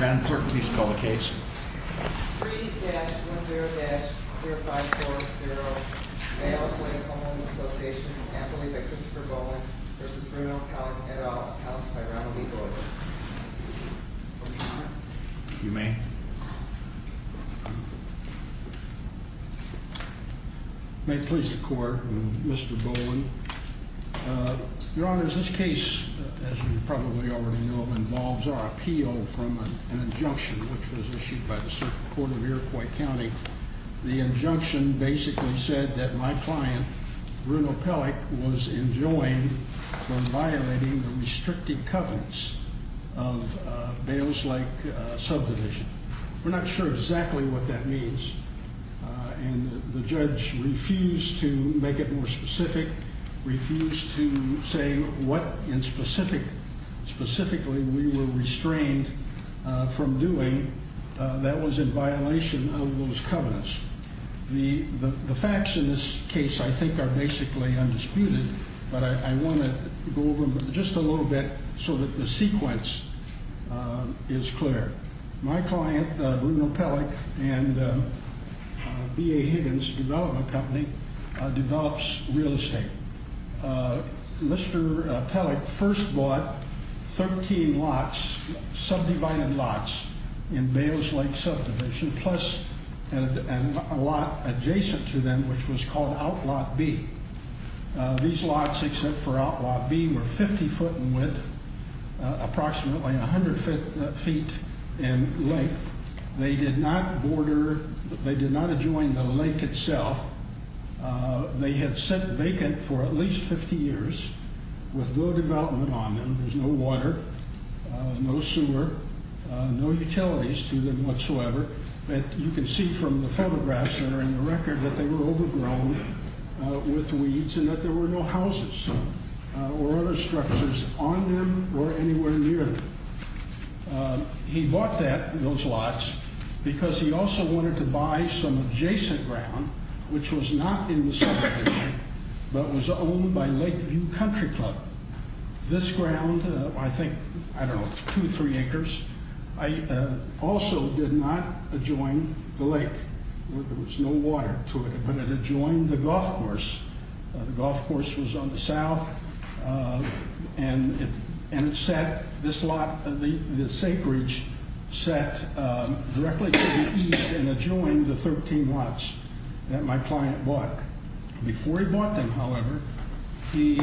Madam clerk, please call the case. 3-10-0540, Mayos Lake Home Owners Association, Anthony Vickers for Bowling v. Bruno Edold, housed by Ronald E. Bowling. Your Honor. You may. May it please the Court, Mr. Bowling, Your Honor, as this case, as you probably already know, involves our appeal from an injunction, which was issued by the Supreme Court of Iroquois County. The injunction basically said that my client, Bruno Pellick, was enjoined from violating the restricted covenants of Bayos Lake subdivision. We're not sure exactly what that means. And the judge refused to make it more specific, refused to say what specifically we were restrained from doing that was in violation of those covenants. The facts in this case, I think, are basically undisputed, but I want to go over them just a little bit so that the sequence is clear. My client, Bruno Pellick, and B.A. Higgins Development Company, develops real estate. Mr. Pellick first bought 13 lots, subdivided lots, in Bayos Lake subdivision, plus a lot adjacent to them, which was called Outlot B. These lots, except for Outlot B, were 50 foot in width, approximately 100 feet in length. They did not border, they did not adjoin the lake itself. They had sat vacant for at least 50 years, with no development on them, there's no water, no sewer, no utilities to them whatsoever. You can see from the photographs that are in the record that they were overgrown with no water structures on them or anywhere near them. He bought that, those lots, because he also wanted to buy some adjacent ground, which was not in the subdivision, but was owned by Lakeview Country Club. This ground, I think, I don't know, two, three acres, also did not adjoin the lake. There was no water to it, but it adjoined the golf course. The golf course was on the south, and it sat, this lot, this acreage, sat directly to the east and adjoined the 13 lots that my client bought. Before he bought them, however, he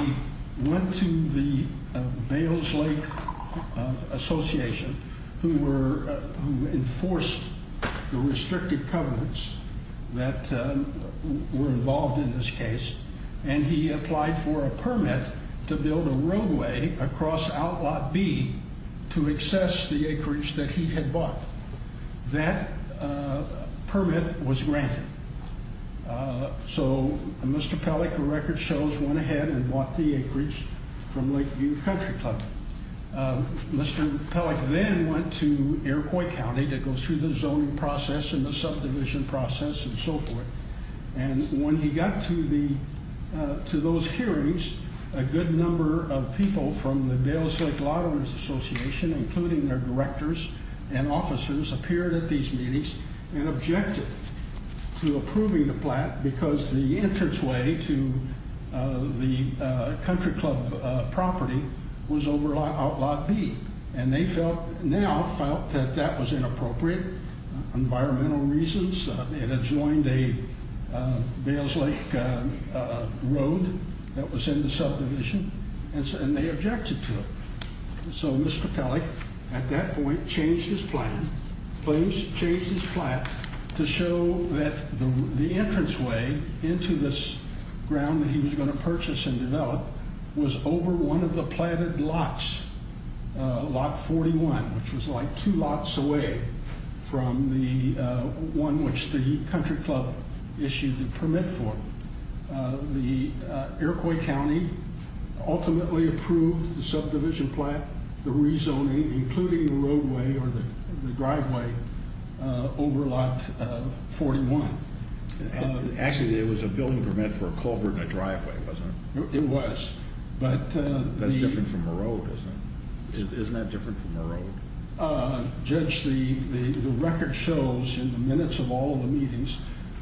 went to the Bayos Lake Association, who enforced the and he applied for a permit to build a roadway across Outlot B to access the acreage that he had bought. That permit was granted. So Mr. Pellick, the record shows, went ahead and bought the acreage from Lakeview Country Club. Mr. Pellick then went to Iroquois County to go through the zoning process and the subdivision process and so forth. And when he got to those hearings, a good number of people from the Bayos Lake Lotteries Association, including their directors and officers, appeared at these meetings and objected to approving the plot because the entranceway to the country club property was over Outlot B. And they felt, now felt, that that was inappropriate, environmental reasons. It adjoined a Bayos Lake road that was in the subdivision, and they objected to it. So Mr. Pellick, at that point, changed his plan, changed his plot to show that the entranceway into this ground that he was going to purchase and develop was over one of the plotted lots, Lot 41, which was like two lots away from the one which the country club issued the permit for. The Iroquois County ultimately approved the subdivision plot, the rezoning, including the roadway or the driveway, over Lot 41. Actually, it was a building permit for a culvert and a driveway, wasn't it? It was. That's different from a road, isn't it? Isn't that different from a road? Judge, the record shows, in the minutes of all the meetings,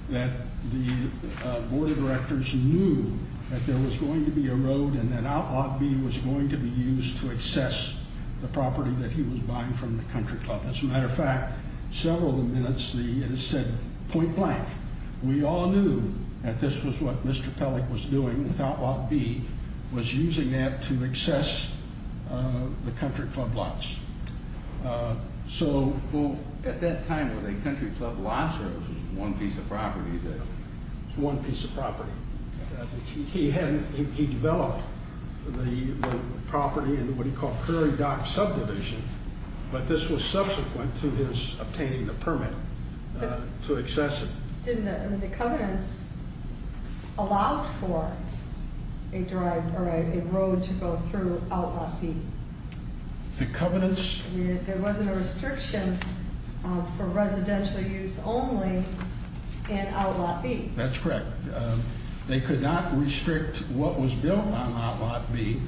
that the board of directors knew that there was going to be a road and that Outlot B was going to be used to access the property that he was buying from the country club. As a matter of fact, several of the minutes, it said point blank. We all knew that this was what Mr. Pellick was doing with Outlot B, was using that to access the country club lots. So at that time, were they country club lots, or was it one piece of property? One piece of property. He developed the property into what he called Curry Dock subdivision, but this was subsequent to his obtaining the permit to access it. Didn't the covenants allow for a road to go through Outlot B? The covenants? There wasn't a restriction for residential use only in Outlot B. That's correct. They could not restrict what was built on Outlot B,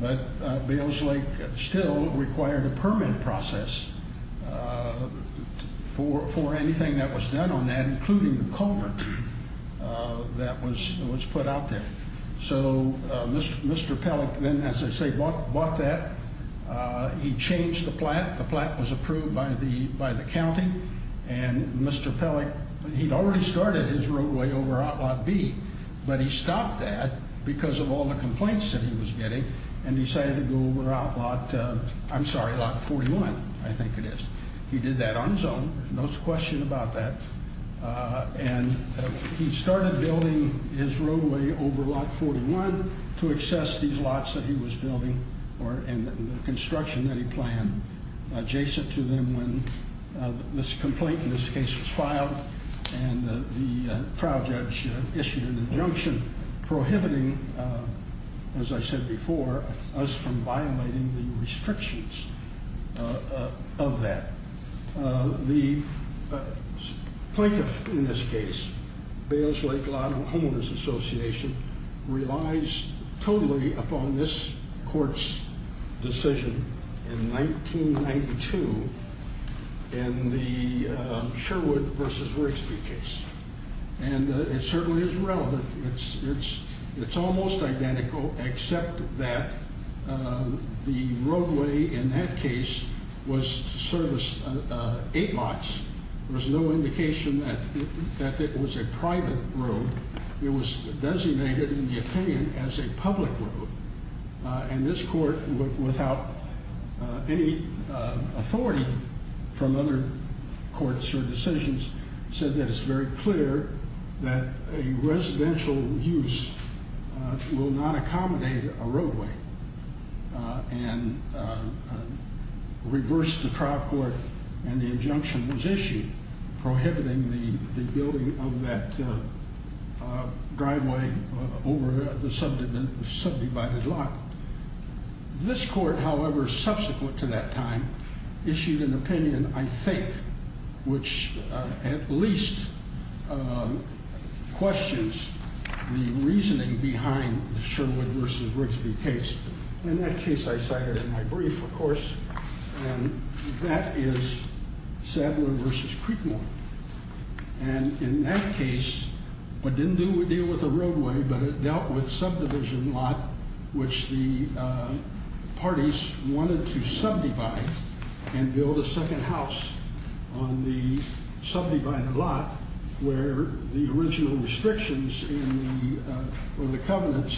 but Bales Lake still required a including the culvert that was put out there. So Mr. Pellick then, as I say, bought that. He changed the plat. The plat was approved by the county, and Mr. Pellick, he'd already started his roadway over Outlot B, but he stopped that because of all the complaints that he was getting and decided to go over Outlot, I'm sorry, Lot 41, I think it is. He did that on his own, there's no question about that, and he started building his roadway over Lot 41 to access these lots that he was building and the construction that he planned adjacent to them when this complaint in this case was filed and the trial judge issued an injunction prohibiting, as I said before, us from violating the restrictions of that. The plaintiff in this case, Bales Lake Lot Homeowners Association, relies totally upon this court's decision in 1992 in the Sherwood v. Rigsby case. And it certainly is relevant. It's almost identical except that the roadway in that case was to service eight lots. There was no indication that it was a private road. It was designated, in the opinion, as a public road. And this court, without any authority from other courts or others, made it clear that a residential use will not accommodate a roadway. And reversed the trial court and the injunction was issued prohibiting the building of that driveway over the subdivided lot. This court, however, subsequent to that time, issued an opinion, I think, which at least questions the reasoning behind the Sherwood v. Rigsby case, and that case I cited in my brief, of course, and that is Sadler v. Creekmore, and in that case, it didn't deal with the roadway, but it dealt with subdivision lot, which the parties wanted to subdivide and build a second house on the subdivided lot, where the original restrictions in the, or the covenants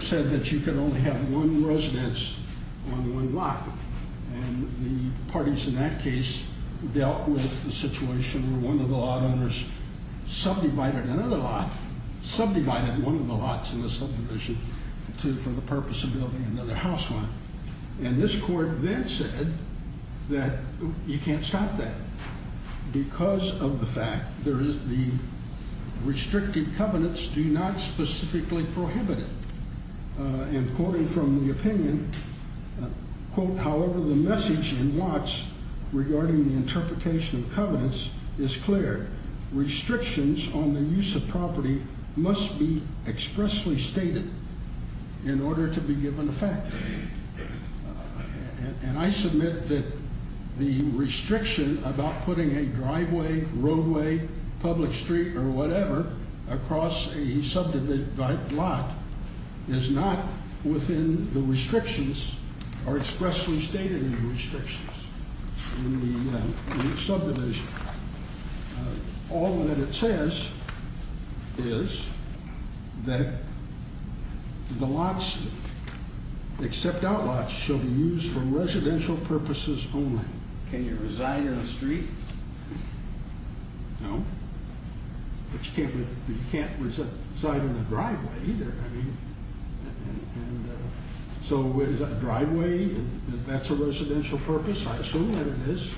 said that you could only have one residence on one lot, and the parties in that case dealt with the situation where one of the lot owners subdivided another lot, subdivided one of the lots in the subdivision for the purpose of building another house on it. And this court then said that you can't stop that, because of the fact there is the restricted covenants do not specifically prohibit it. And quoting from the opinion, quote, however, the message in Watts regarding the interpretation of covenants is clear. Restrictions on the use of property must be expressly stated in order to be given effect, and I submit that the restriction about putting a driveway, roadway, public street, or whatever, across a subdivided lot is not within the restrictions, or expressly stated in the restrictions in the subdivision. All that it says is that the lots, except out lots, should be used for residential purposes only. Can you reside in a street? No, but you can't reside in a driveway either, I mean. So is a driveway, that's a residential purpose, I assume that it is.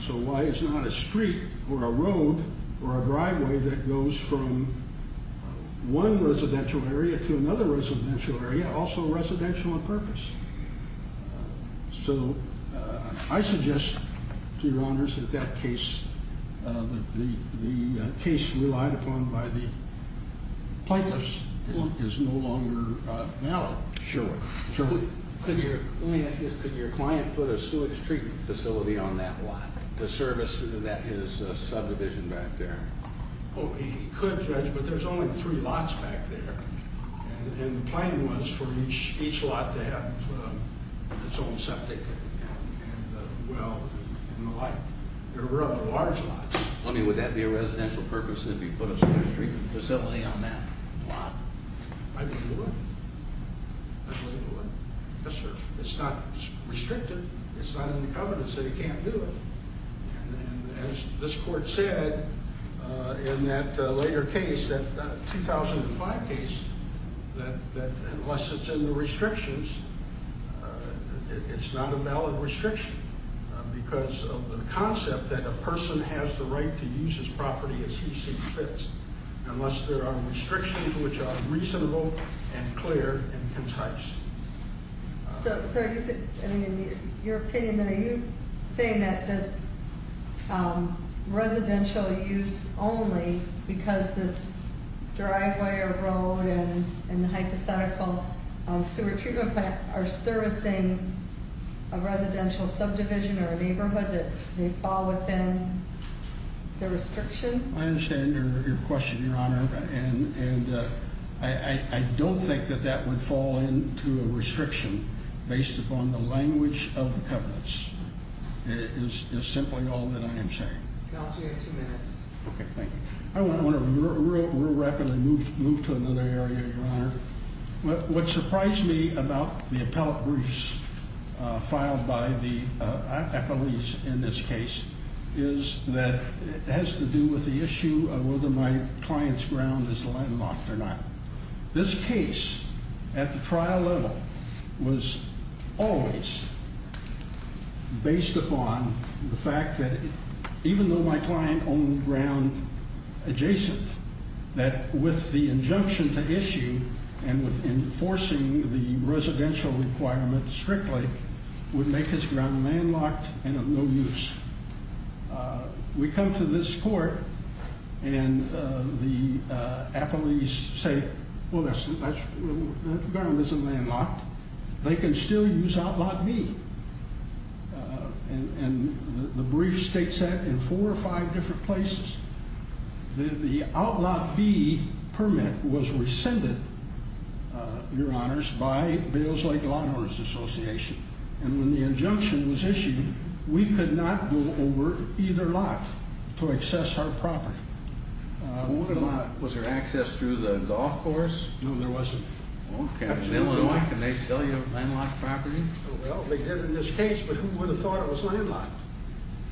So why it's not a street, or a road, or a driveway that goes from one residential area to another residential area, also residential in purpose. So I suggest, to your honors, that that case, the case relied upon by the plaintiffs, is no longer valid. Sure, sure. Could your, let me ask you this, could your client put a sewage treatment facility on that lot, to service that his subdivision back there? He could, Judge, but there's only three lots back there, and the plan was for each lot to have its own septic, and well, and the like. They're rather large lots. I mean, would that be a residential purpose if you put a sewage treatment facility on that lot? I would do it, I would do it. Yes, sir. It's not restricted, it's not in the covenants that you can't do it. And as this court said, in that later case, that 2005 case, that unless it's in the restrictions, it's not a valid restriction. Because of the concept that a person has the right to use his property as he sees fit. Unless there are restrictions which are reasonable, and clear, and concise. So, sir, you said, I mean, in your opinion, are you saying that this residential use only because this driveway or road and the hypothetical sewer treatment plant are servicing a residential subdivision or a neighborhood that may fall within the restriction? I understand your question, your honor. And I don't think that that would fall into a restriction based upon the language of the covenants, is simply all that I am saying. Counsel, you have two minutes. Okay, thank you. I want to real rapidly move to another area, your honor. What surprised me about the appellate briefs filed by the alleys in this case is that it has to do with the issue of whether my client's ground is landlocked or not. This case at the trial level was always based upon the fact that even though my client owned ground adjacent, that with the injunction to issue and with enforcing the residential requirement strictly, would make his ground landlocked and of no use. We come to this court and the appellees say, well, that ground isn't landlocked, they can still use outlot B. And the brief states that in four or five different places. The outlot B permit was rescinded, your honors, by Bales Lake Lawn Owners Association. And when the injunction was issued, we could not go over either lot to access our property. What about, was there access through the golf course? No, there wasn't. Okay, can they sell you landlocked property? Well, they did in this case, but who would have thought it was landlocked?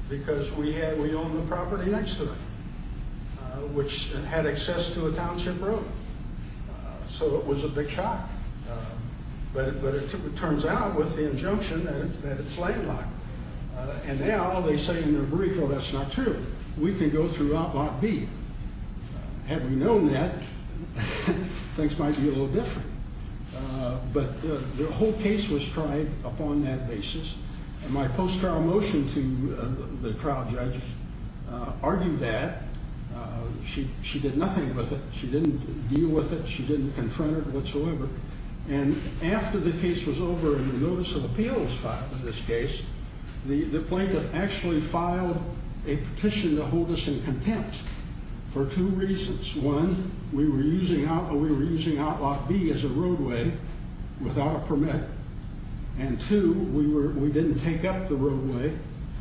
Because we owned the property next to it, which had access to a township road. So it was a big shock, but it turns out with the injunction that it's landlocked. And now they say in their brief, well, that's not true, we can go through outlot B. Had we known that, things might be a little different. But the whole case was tried upon that basis. And my post-trial motion to the trial judge argued that. She did nothing with it, she didn't deal with it, she didn't confront it whatsoever. And after the case was over and the notice of appeal was filed in this case, the plaintiff actually filed a petition to hold us in contempt for two reasons. One, we were using outlot B as a roadway without a permit. And two, we didn't take up the roadway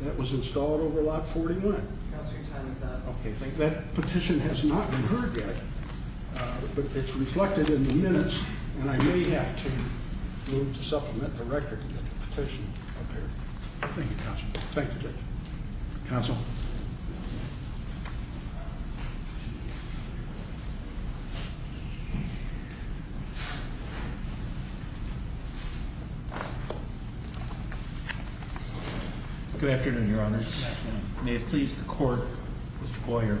that was installed over lot 41. Okay, thank you. That petition has not been heard yet, but it's reflected in the minutes. And I may have to move to supplement the record of the petition up here. Thank you, counsel. Thank you, judge. Counsel. Good afternoon, your honors. May it please the court, Mr. Boyer.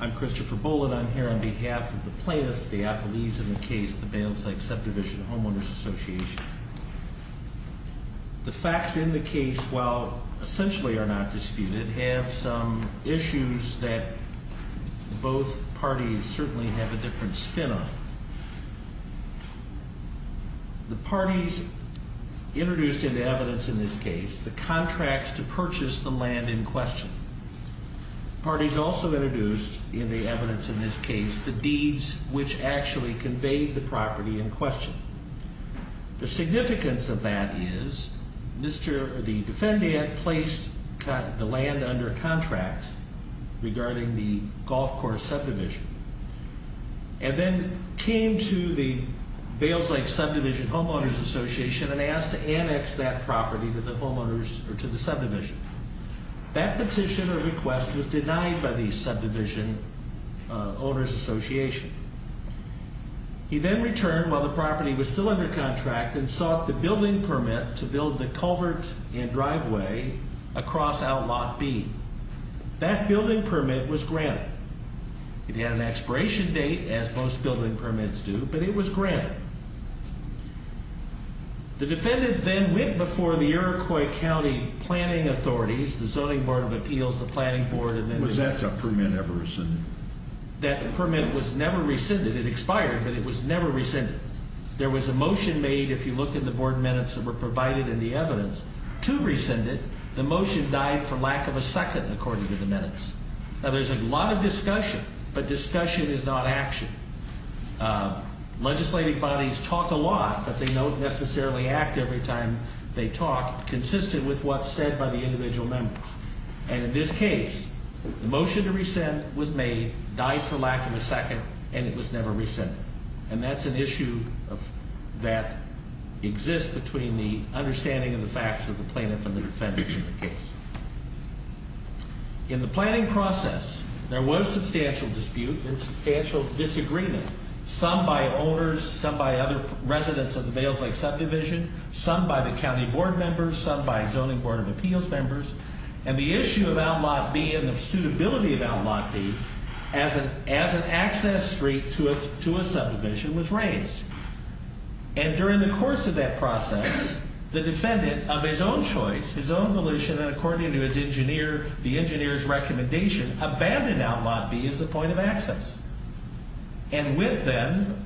I'm Christopher Bullen, I'm here on behalf of the plaintiffs, the apologies of the case, the Bales Lake Subdivision Homeowners Association. The facts in the case, while essentially are not disputed, have some issues that both parties certainly have a different spin on. The parties introduced in the evidence in this case, the contracts to purchase the land in question. Parties also introduced in the evidence in this case, the deeds which actually conveyed the property in question. The significance of that is the defendant placed the land under contract regarding the golf course subdivision. And then came to the Bales Lake Subdivision Homeowners Association and asked to annex that property to the subdivision. That petition or request was denied by the subdivision owners association. He then returned while the property was still under contract and sought the building permit to build the culvert and driveway across outlot B. That building permit was granted. It had an expiration date, as most building permits do, but it was granted. The defendant then went before the Iroquois County Planning Authorities, the Zoning Board of Appeals, the Planning Board, and then- Was that permit ever rescinded? That permit was never rescinded. It expired, but it was never rescinded. There was a motion made, if you look in the board minutes that were provided in the evidence, to rescind it. The motion died for lack of a second, according to the minutes. Now, there's a lot of discussion, but discussion is not action. Legislative bodies talk a lot, but they don't necessarily act every time they talk, consistent with what's said by the individual members. And in this case, the motion to rescind was made, died for lack of a second, and it was never rescinded. And that's an issue that exists between the understanding and the facts of the plaintiff and the defendants in the case. In the planning process, there was substantial dispute and substantial disagreement, some by owners, some by other residents of the Bales Lake subdivision, some by the county board members, some by Zoning Board of Appeals members, and the issue of Outlaw B and the suitability of Outlaw B as an access street to a subdivision was raised. And during the course of that process, the defendant, of his own choice, his own volition, and according to his engineer, the engineer's recommendation, abandoned Outlaw B as a point of access. And with them,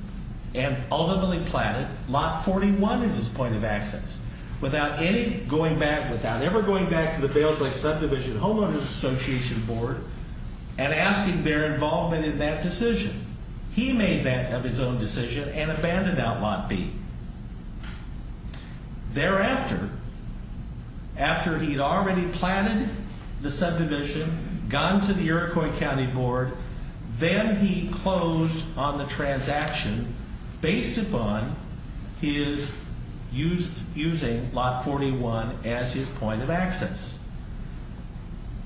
and ultimately planted, Lot 41 is his point of access. Without any going back, without ever going back to the Bales Lake Subdivision Homeowners Association Board, and asking their involvement in that decision. He made that of his own decision and abandoned Outlaw B. Thereafter, after he'd already planted the subdivision, gone to the Iroquois County Board, then he closed on the transaction based upon his using Lot 41 as his point of access.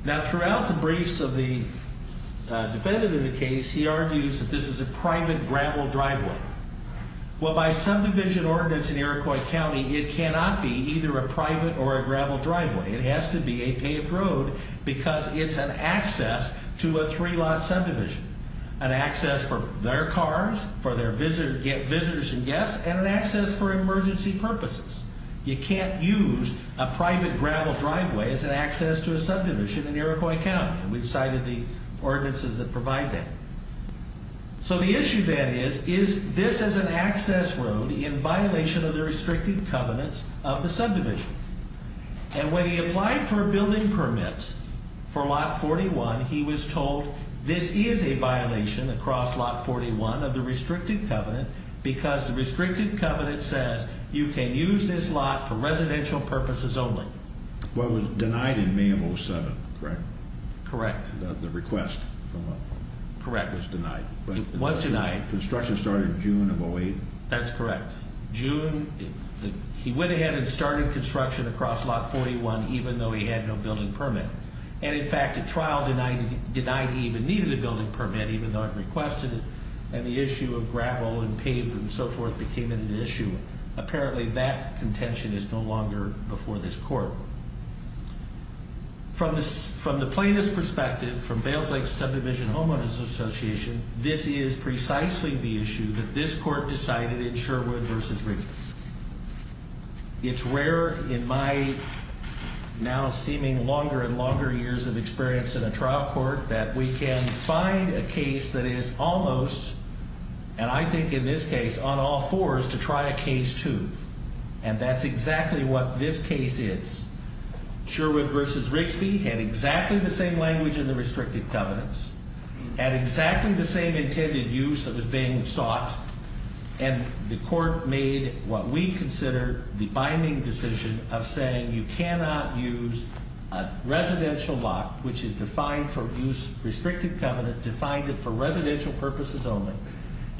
Now, throughout the briefs of the defendant in the case, he argues that this is a private gravel driveway. Well, by subdivision ordinance in Iroquois County, it cannot be either a private or a gravel driveway. It has to be a paved road because it's an access to a three lot subdivision. An access for their cars, for their visitors and guests, and an access for emergency purposes. You can't use a private gravel driveway as an access to a subdivision in Iroquois County, and we've cited the ordinances that provide that. So the issue then is, is this as an access road in violation of the restricted covenants of the subdivision? And when he applied for a building permit for Lot 41, he was told this is a violation across Lot 41 of the restricted covenant, because the restricted covenant says you can use this lot for residential purposes only. What was denied in May of 07, correct? Correct. The request for what? Correct. It was denied. It was denied. Construction started June of 08. That's correct. June, he went ahead and started construction across Lot 41, even though he had no building permit. And in fact, a trial denied he even needed a building permit, even though it requested it. And the issue of gravel and paved and so forth became an issue. Apparently, that contention is no longer before this court. From the plaintiff's perspective, from Bales Lake Subdivision Homeowners Association, this is precisely the issue that this court decided in Sherwood versus Briggs. It's rare in my now seeming longer and longer years of experience in a trial court that we can find a case that is almost, and I think in this case, on all fours to try a case two. And that's exactly what this case is. Sherwood versus Rigsby had exactly the same language in the restricted covenants, had exactly the same intended use that was being sought. And the court made what we consider the binding decision of saying you cannot use a residential lot which is defined for use restricted covenant, defines it for residential purposes only.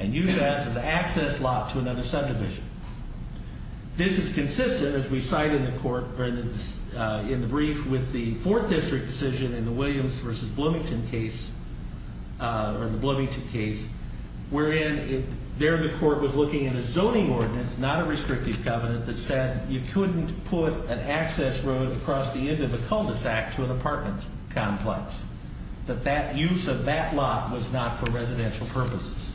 And use that as an access lot to another subdivision. This is consistent, as we cite in the court, in the brief with the fourth district decision in the Williams versus Bloomington case. Or the Bloomington case, wherein there the court was looking at a zoning ordinance, not a restrictive covenant, that said you couldn't put an access road across the end of a cul-de-sac to an apartment complex. But that use of that lot was not for residential purposes.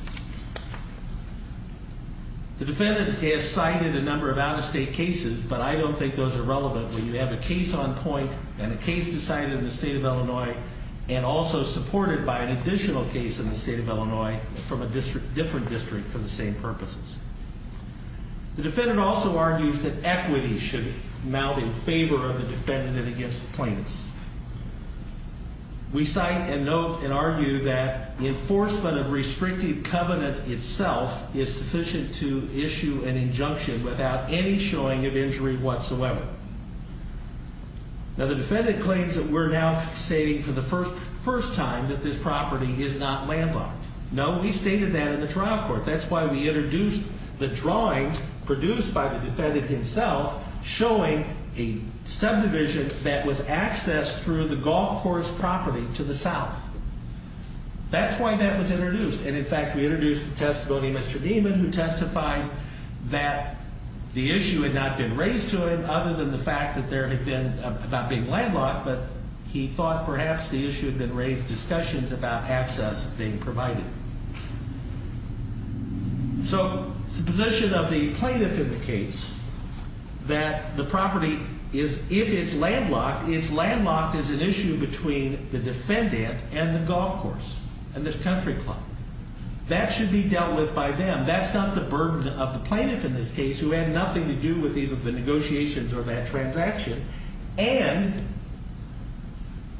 The defendant has cited a number of out of state cases, but I don't think those are relevant. When you have a case on point and a case decided in the state of Illinois and also supported by an additional case in the state of Illinois from a different district for the same purposes. The defendant also argues that equity should mount in favor of the defendant and against the plaintiffs. We cite and note and argue that enforcement of restrictive covenant itself is sufficient to issue an injunction without any showing of injury whatsoever. Now the defendant claims that we're now stating for the first time that this property is not landlocked. No, we stated that in the trial court. That's why we introduced the drawings produced by the defendant himself, showing a subdivision that was accessed through the golf course property to the south. That's why that was introduced. And in fact, we introduced the testimony of Mr. Neiman, who testified that the issue had not been raised to him, other than the fact that there had been, not being landlocked, but he thought perhaps the issue had been raised discussions about access being provided. So the position of the plaintiff in the case, that the property is, if it's landlocked, is landlocked as an issue between the defendant and the golf course and the country club. That should be dealt with by them. That's not the burden of the plaintiff in this case, who had nothing to do with either the negotiations or that transaction. And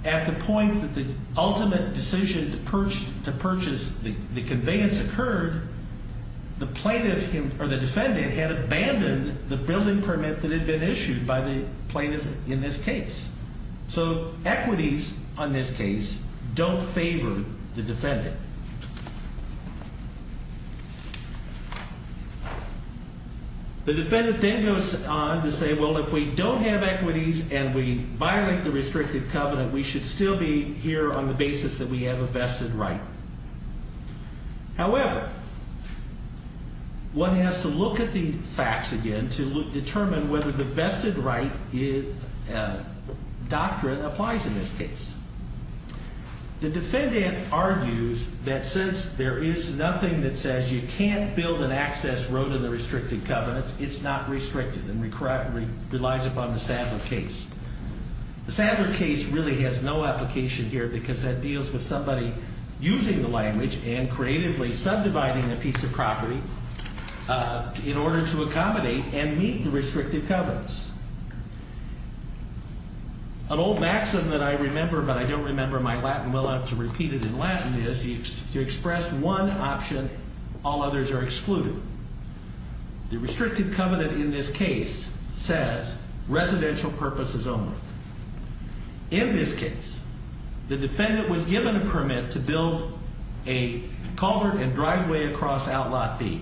at the point that the ultimate decision to purchase the conveyance occurred, the plaintiff or the defendant had abandoned the building permit that had been issued by the plaintiff in this case. So equities on this case don't favor the defendant. The defendant then goes on to say, well, if we don't have equities and we violate the restricted covenant, we should still be here on the basis that we have a vested right. However, one has to look at the facts again to determine whether the vested right doctrine applies in this case. The defendant argues that since there is nothing that says you can't build an access road to the restricted covenants, it's not restricted and relies upon the Sandler case. The Sandler case really has no application here because that deals with somebody using the language and creatively subdividing a piece of property in order to accommodate and meet the restricted covenants. An old maxim that I remember, but I don't remember my Latin well enough to repeat it in Latin, is to express one option, all others are excluded. The restricted covenant in this case says residential purposes only. In this case, the defendant was given a permit to build a culvert and driveway across outlot B.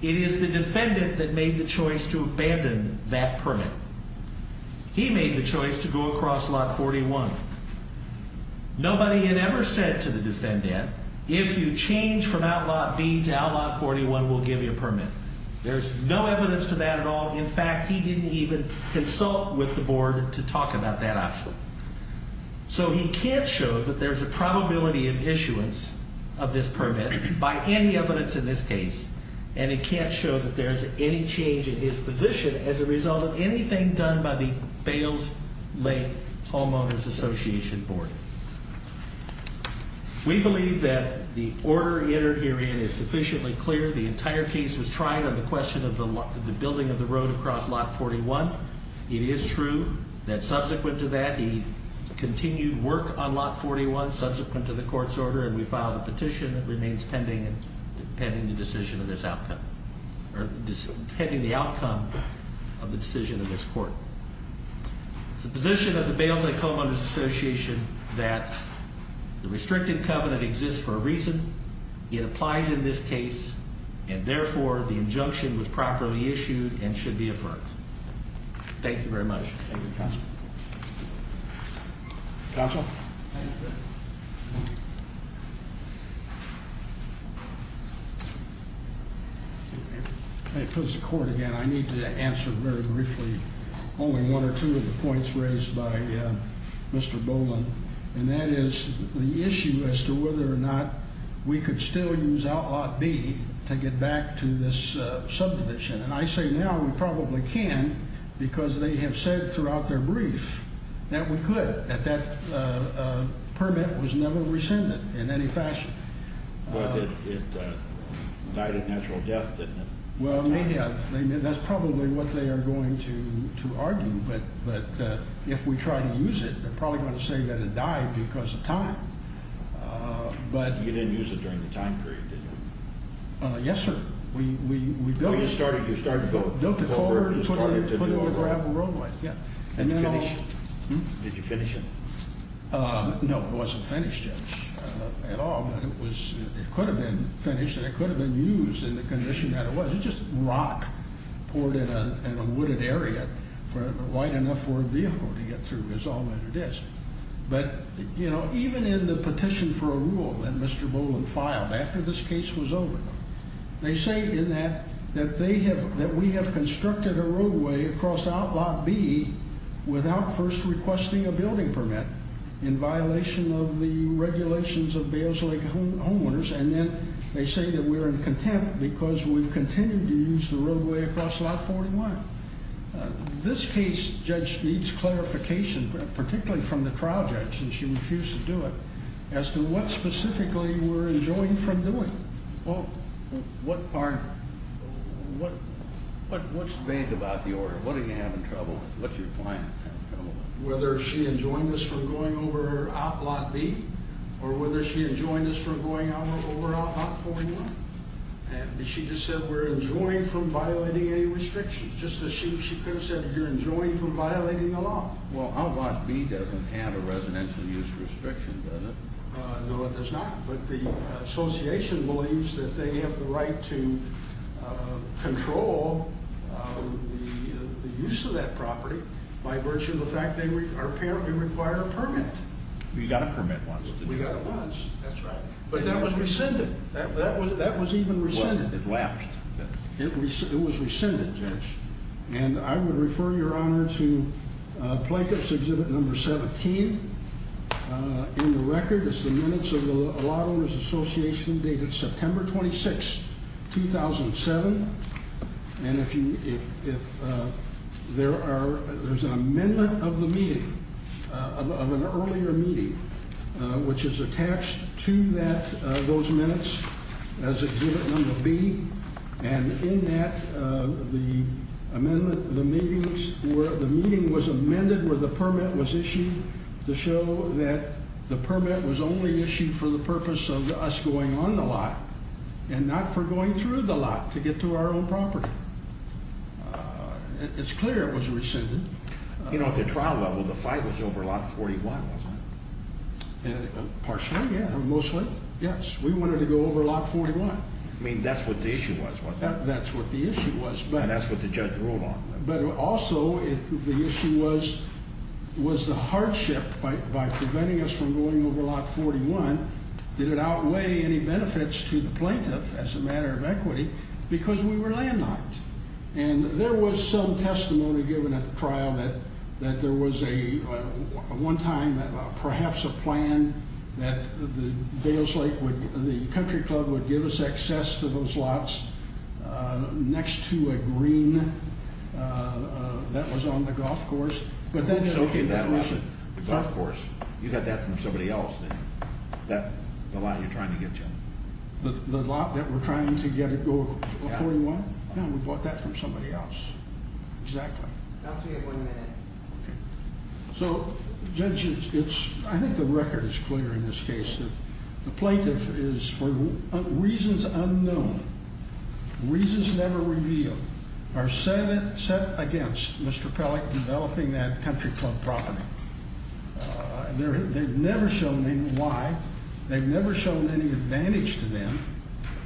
It is the defendant that made the choice to abandon that permit. He made the choice to go across lot 41. Nobody had ever said to the defendant, if you change from outlot B to outlot 41, we'll give you a permit. There's no evidence to that at all. In fact, he didn't even consult with the board to talk about that option. So he can't show that there's a probability of issuance of this permit by any evidence in this case, and he can't show that there's any change in his position as a result of anything done by the Bales Lake Homeowners Association Board. We believe that the order entered herein is sufficiently clear. The entire case was tried on the question of the building of the road across lot 41. It is true that subsequent to that, he continued work on lot 41, subsequent to the court's order, and we filed a petition that remains pending, pending the decision of this outcome, or pending the outcome of the decision of this court. It's the position of the Bales Lake Homeowners Association that the restricted covenant exists for a reason. It applies in this case, and therefore, the injunction was properly issued and should be affirmed. Thank you very much. Thank you, Counsel. Counsel? Mr. Court, again, I need to answer very briefly only one or two of the points raised by Mr. Boland, and that is the issue as to whether or not we could still use outlot B to get back to this subdivision, and I say now we probably can because they have said throughout their brief that we could, that that permit was never rescinded in any fashion. But it died a natural death, didn't it? Well, it may have. That's probably what they are going to argue, but if we try to use it, they're probably going to say that it died because of time. You didn't use it during the time period, did you? Yes, sir. We built it. You started to build it? Built it forward and put it on a gravel roadway, yeah. And you finished it? Did you finish it? No, it wasn't finished yet at all, but it could have been finished and it could have been used in the condition that it was. It's just rock poured in a wooded area wide enough for a vehicle to get through is all that it is. But, you know, even in the petition for a rule that Mr. Boland filed after this case was over, they say in that that we have constructed a roadway across outlot B without first requesting a building permit in violation of the regulations of Bales Lake homeowners, and then they say that we're in contempt because we've continued to use the roadway across lot 41. This case, Judge, needs clarification, particularly from the trial judge, and she refused to do it, as to what specifically we're enjoined from doing. Well, what's vague about the order? What are you having trouble with? What's your client having trouble with? Whether she enjoined us from going over outlot B or whether she enjoined us from going over outlot 41. She just said we're enjoined from violating any restrictions, just as she could have said you're enjoined from violating the law. Well, outlot B doesn't have a residential use restriction, does it? No, it does not, but the association believes that they have the right to control the use of that property by virtue of the fact they apparently require a permit. We got a permit once. We got it once. That's right. But that was rescinded. That was even rescinded. Well, it lapsed. It was rescinded, Judge, and I would refer your honor to Plaintiff's Exhibit Number 17. In the record, it's the minutes of the Lot Owners Association dated September 26, 2007, and there's an amendment of the meeting, of an earlier meeting, which is attached to those minutes as Exhibit Number B, and in that the meeting was amended where the permit was issued to show that the permit was only issued for the purpose of us going on the lot and not for going through the lot to get to our own property. It's clear it was rescinded. You know, at the trial level, the fight was over Lot 41, wasn't it? Partially, yeah, or mostly, yes. We wanted to go over Lot 41. I mean, that's what the issue was, wasn't it? That's what the issue was. And that's what the judge ruled on. But also, the issue was, was the hardship by preventing us from going over Lot 41, did it outweigh any benefits to the plaintiff as a matter of equity? Because we were landlocked. And there was some testimony given at the trial that there was a, one time, perhaps a plan that the country club would give us access to those lots next to a green that was on the golf course. The golf course. You got that from somebody else, didn't you? The lot you're trying to get to. The lot that we're trying to get to go to 41? Yeah, we bought that from somebody else. Exactly. That's what we have one minute. Okay. So, judges, I think the record is clear in this case. The plaintiff is, for reasons unknown, reasons never revealed, are set against Mr. Pellick developing that country club property. They've never shown me why. They've never shown any advantage to them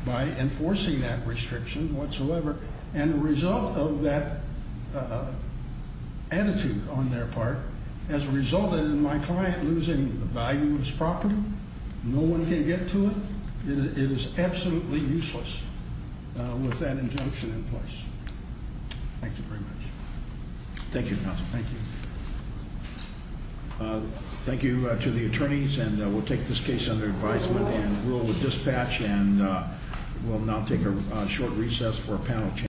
by enforcing that restriction whatsoever. And the result of that attitude on their part has resulted in my client losing the value of his property. No one can get to it. It is absolutely useless with that injunction in place. Thank you very much. Thank you, counsel. Thank you. Thank you to the attorneys, and we'll take this case under advisement and rule of dispatch, and we'll now take a short recess for a panel change.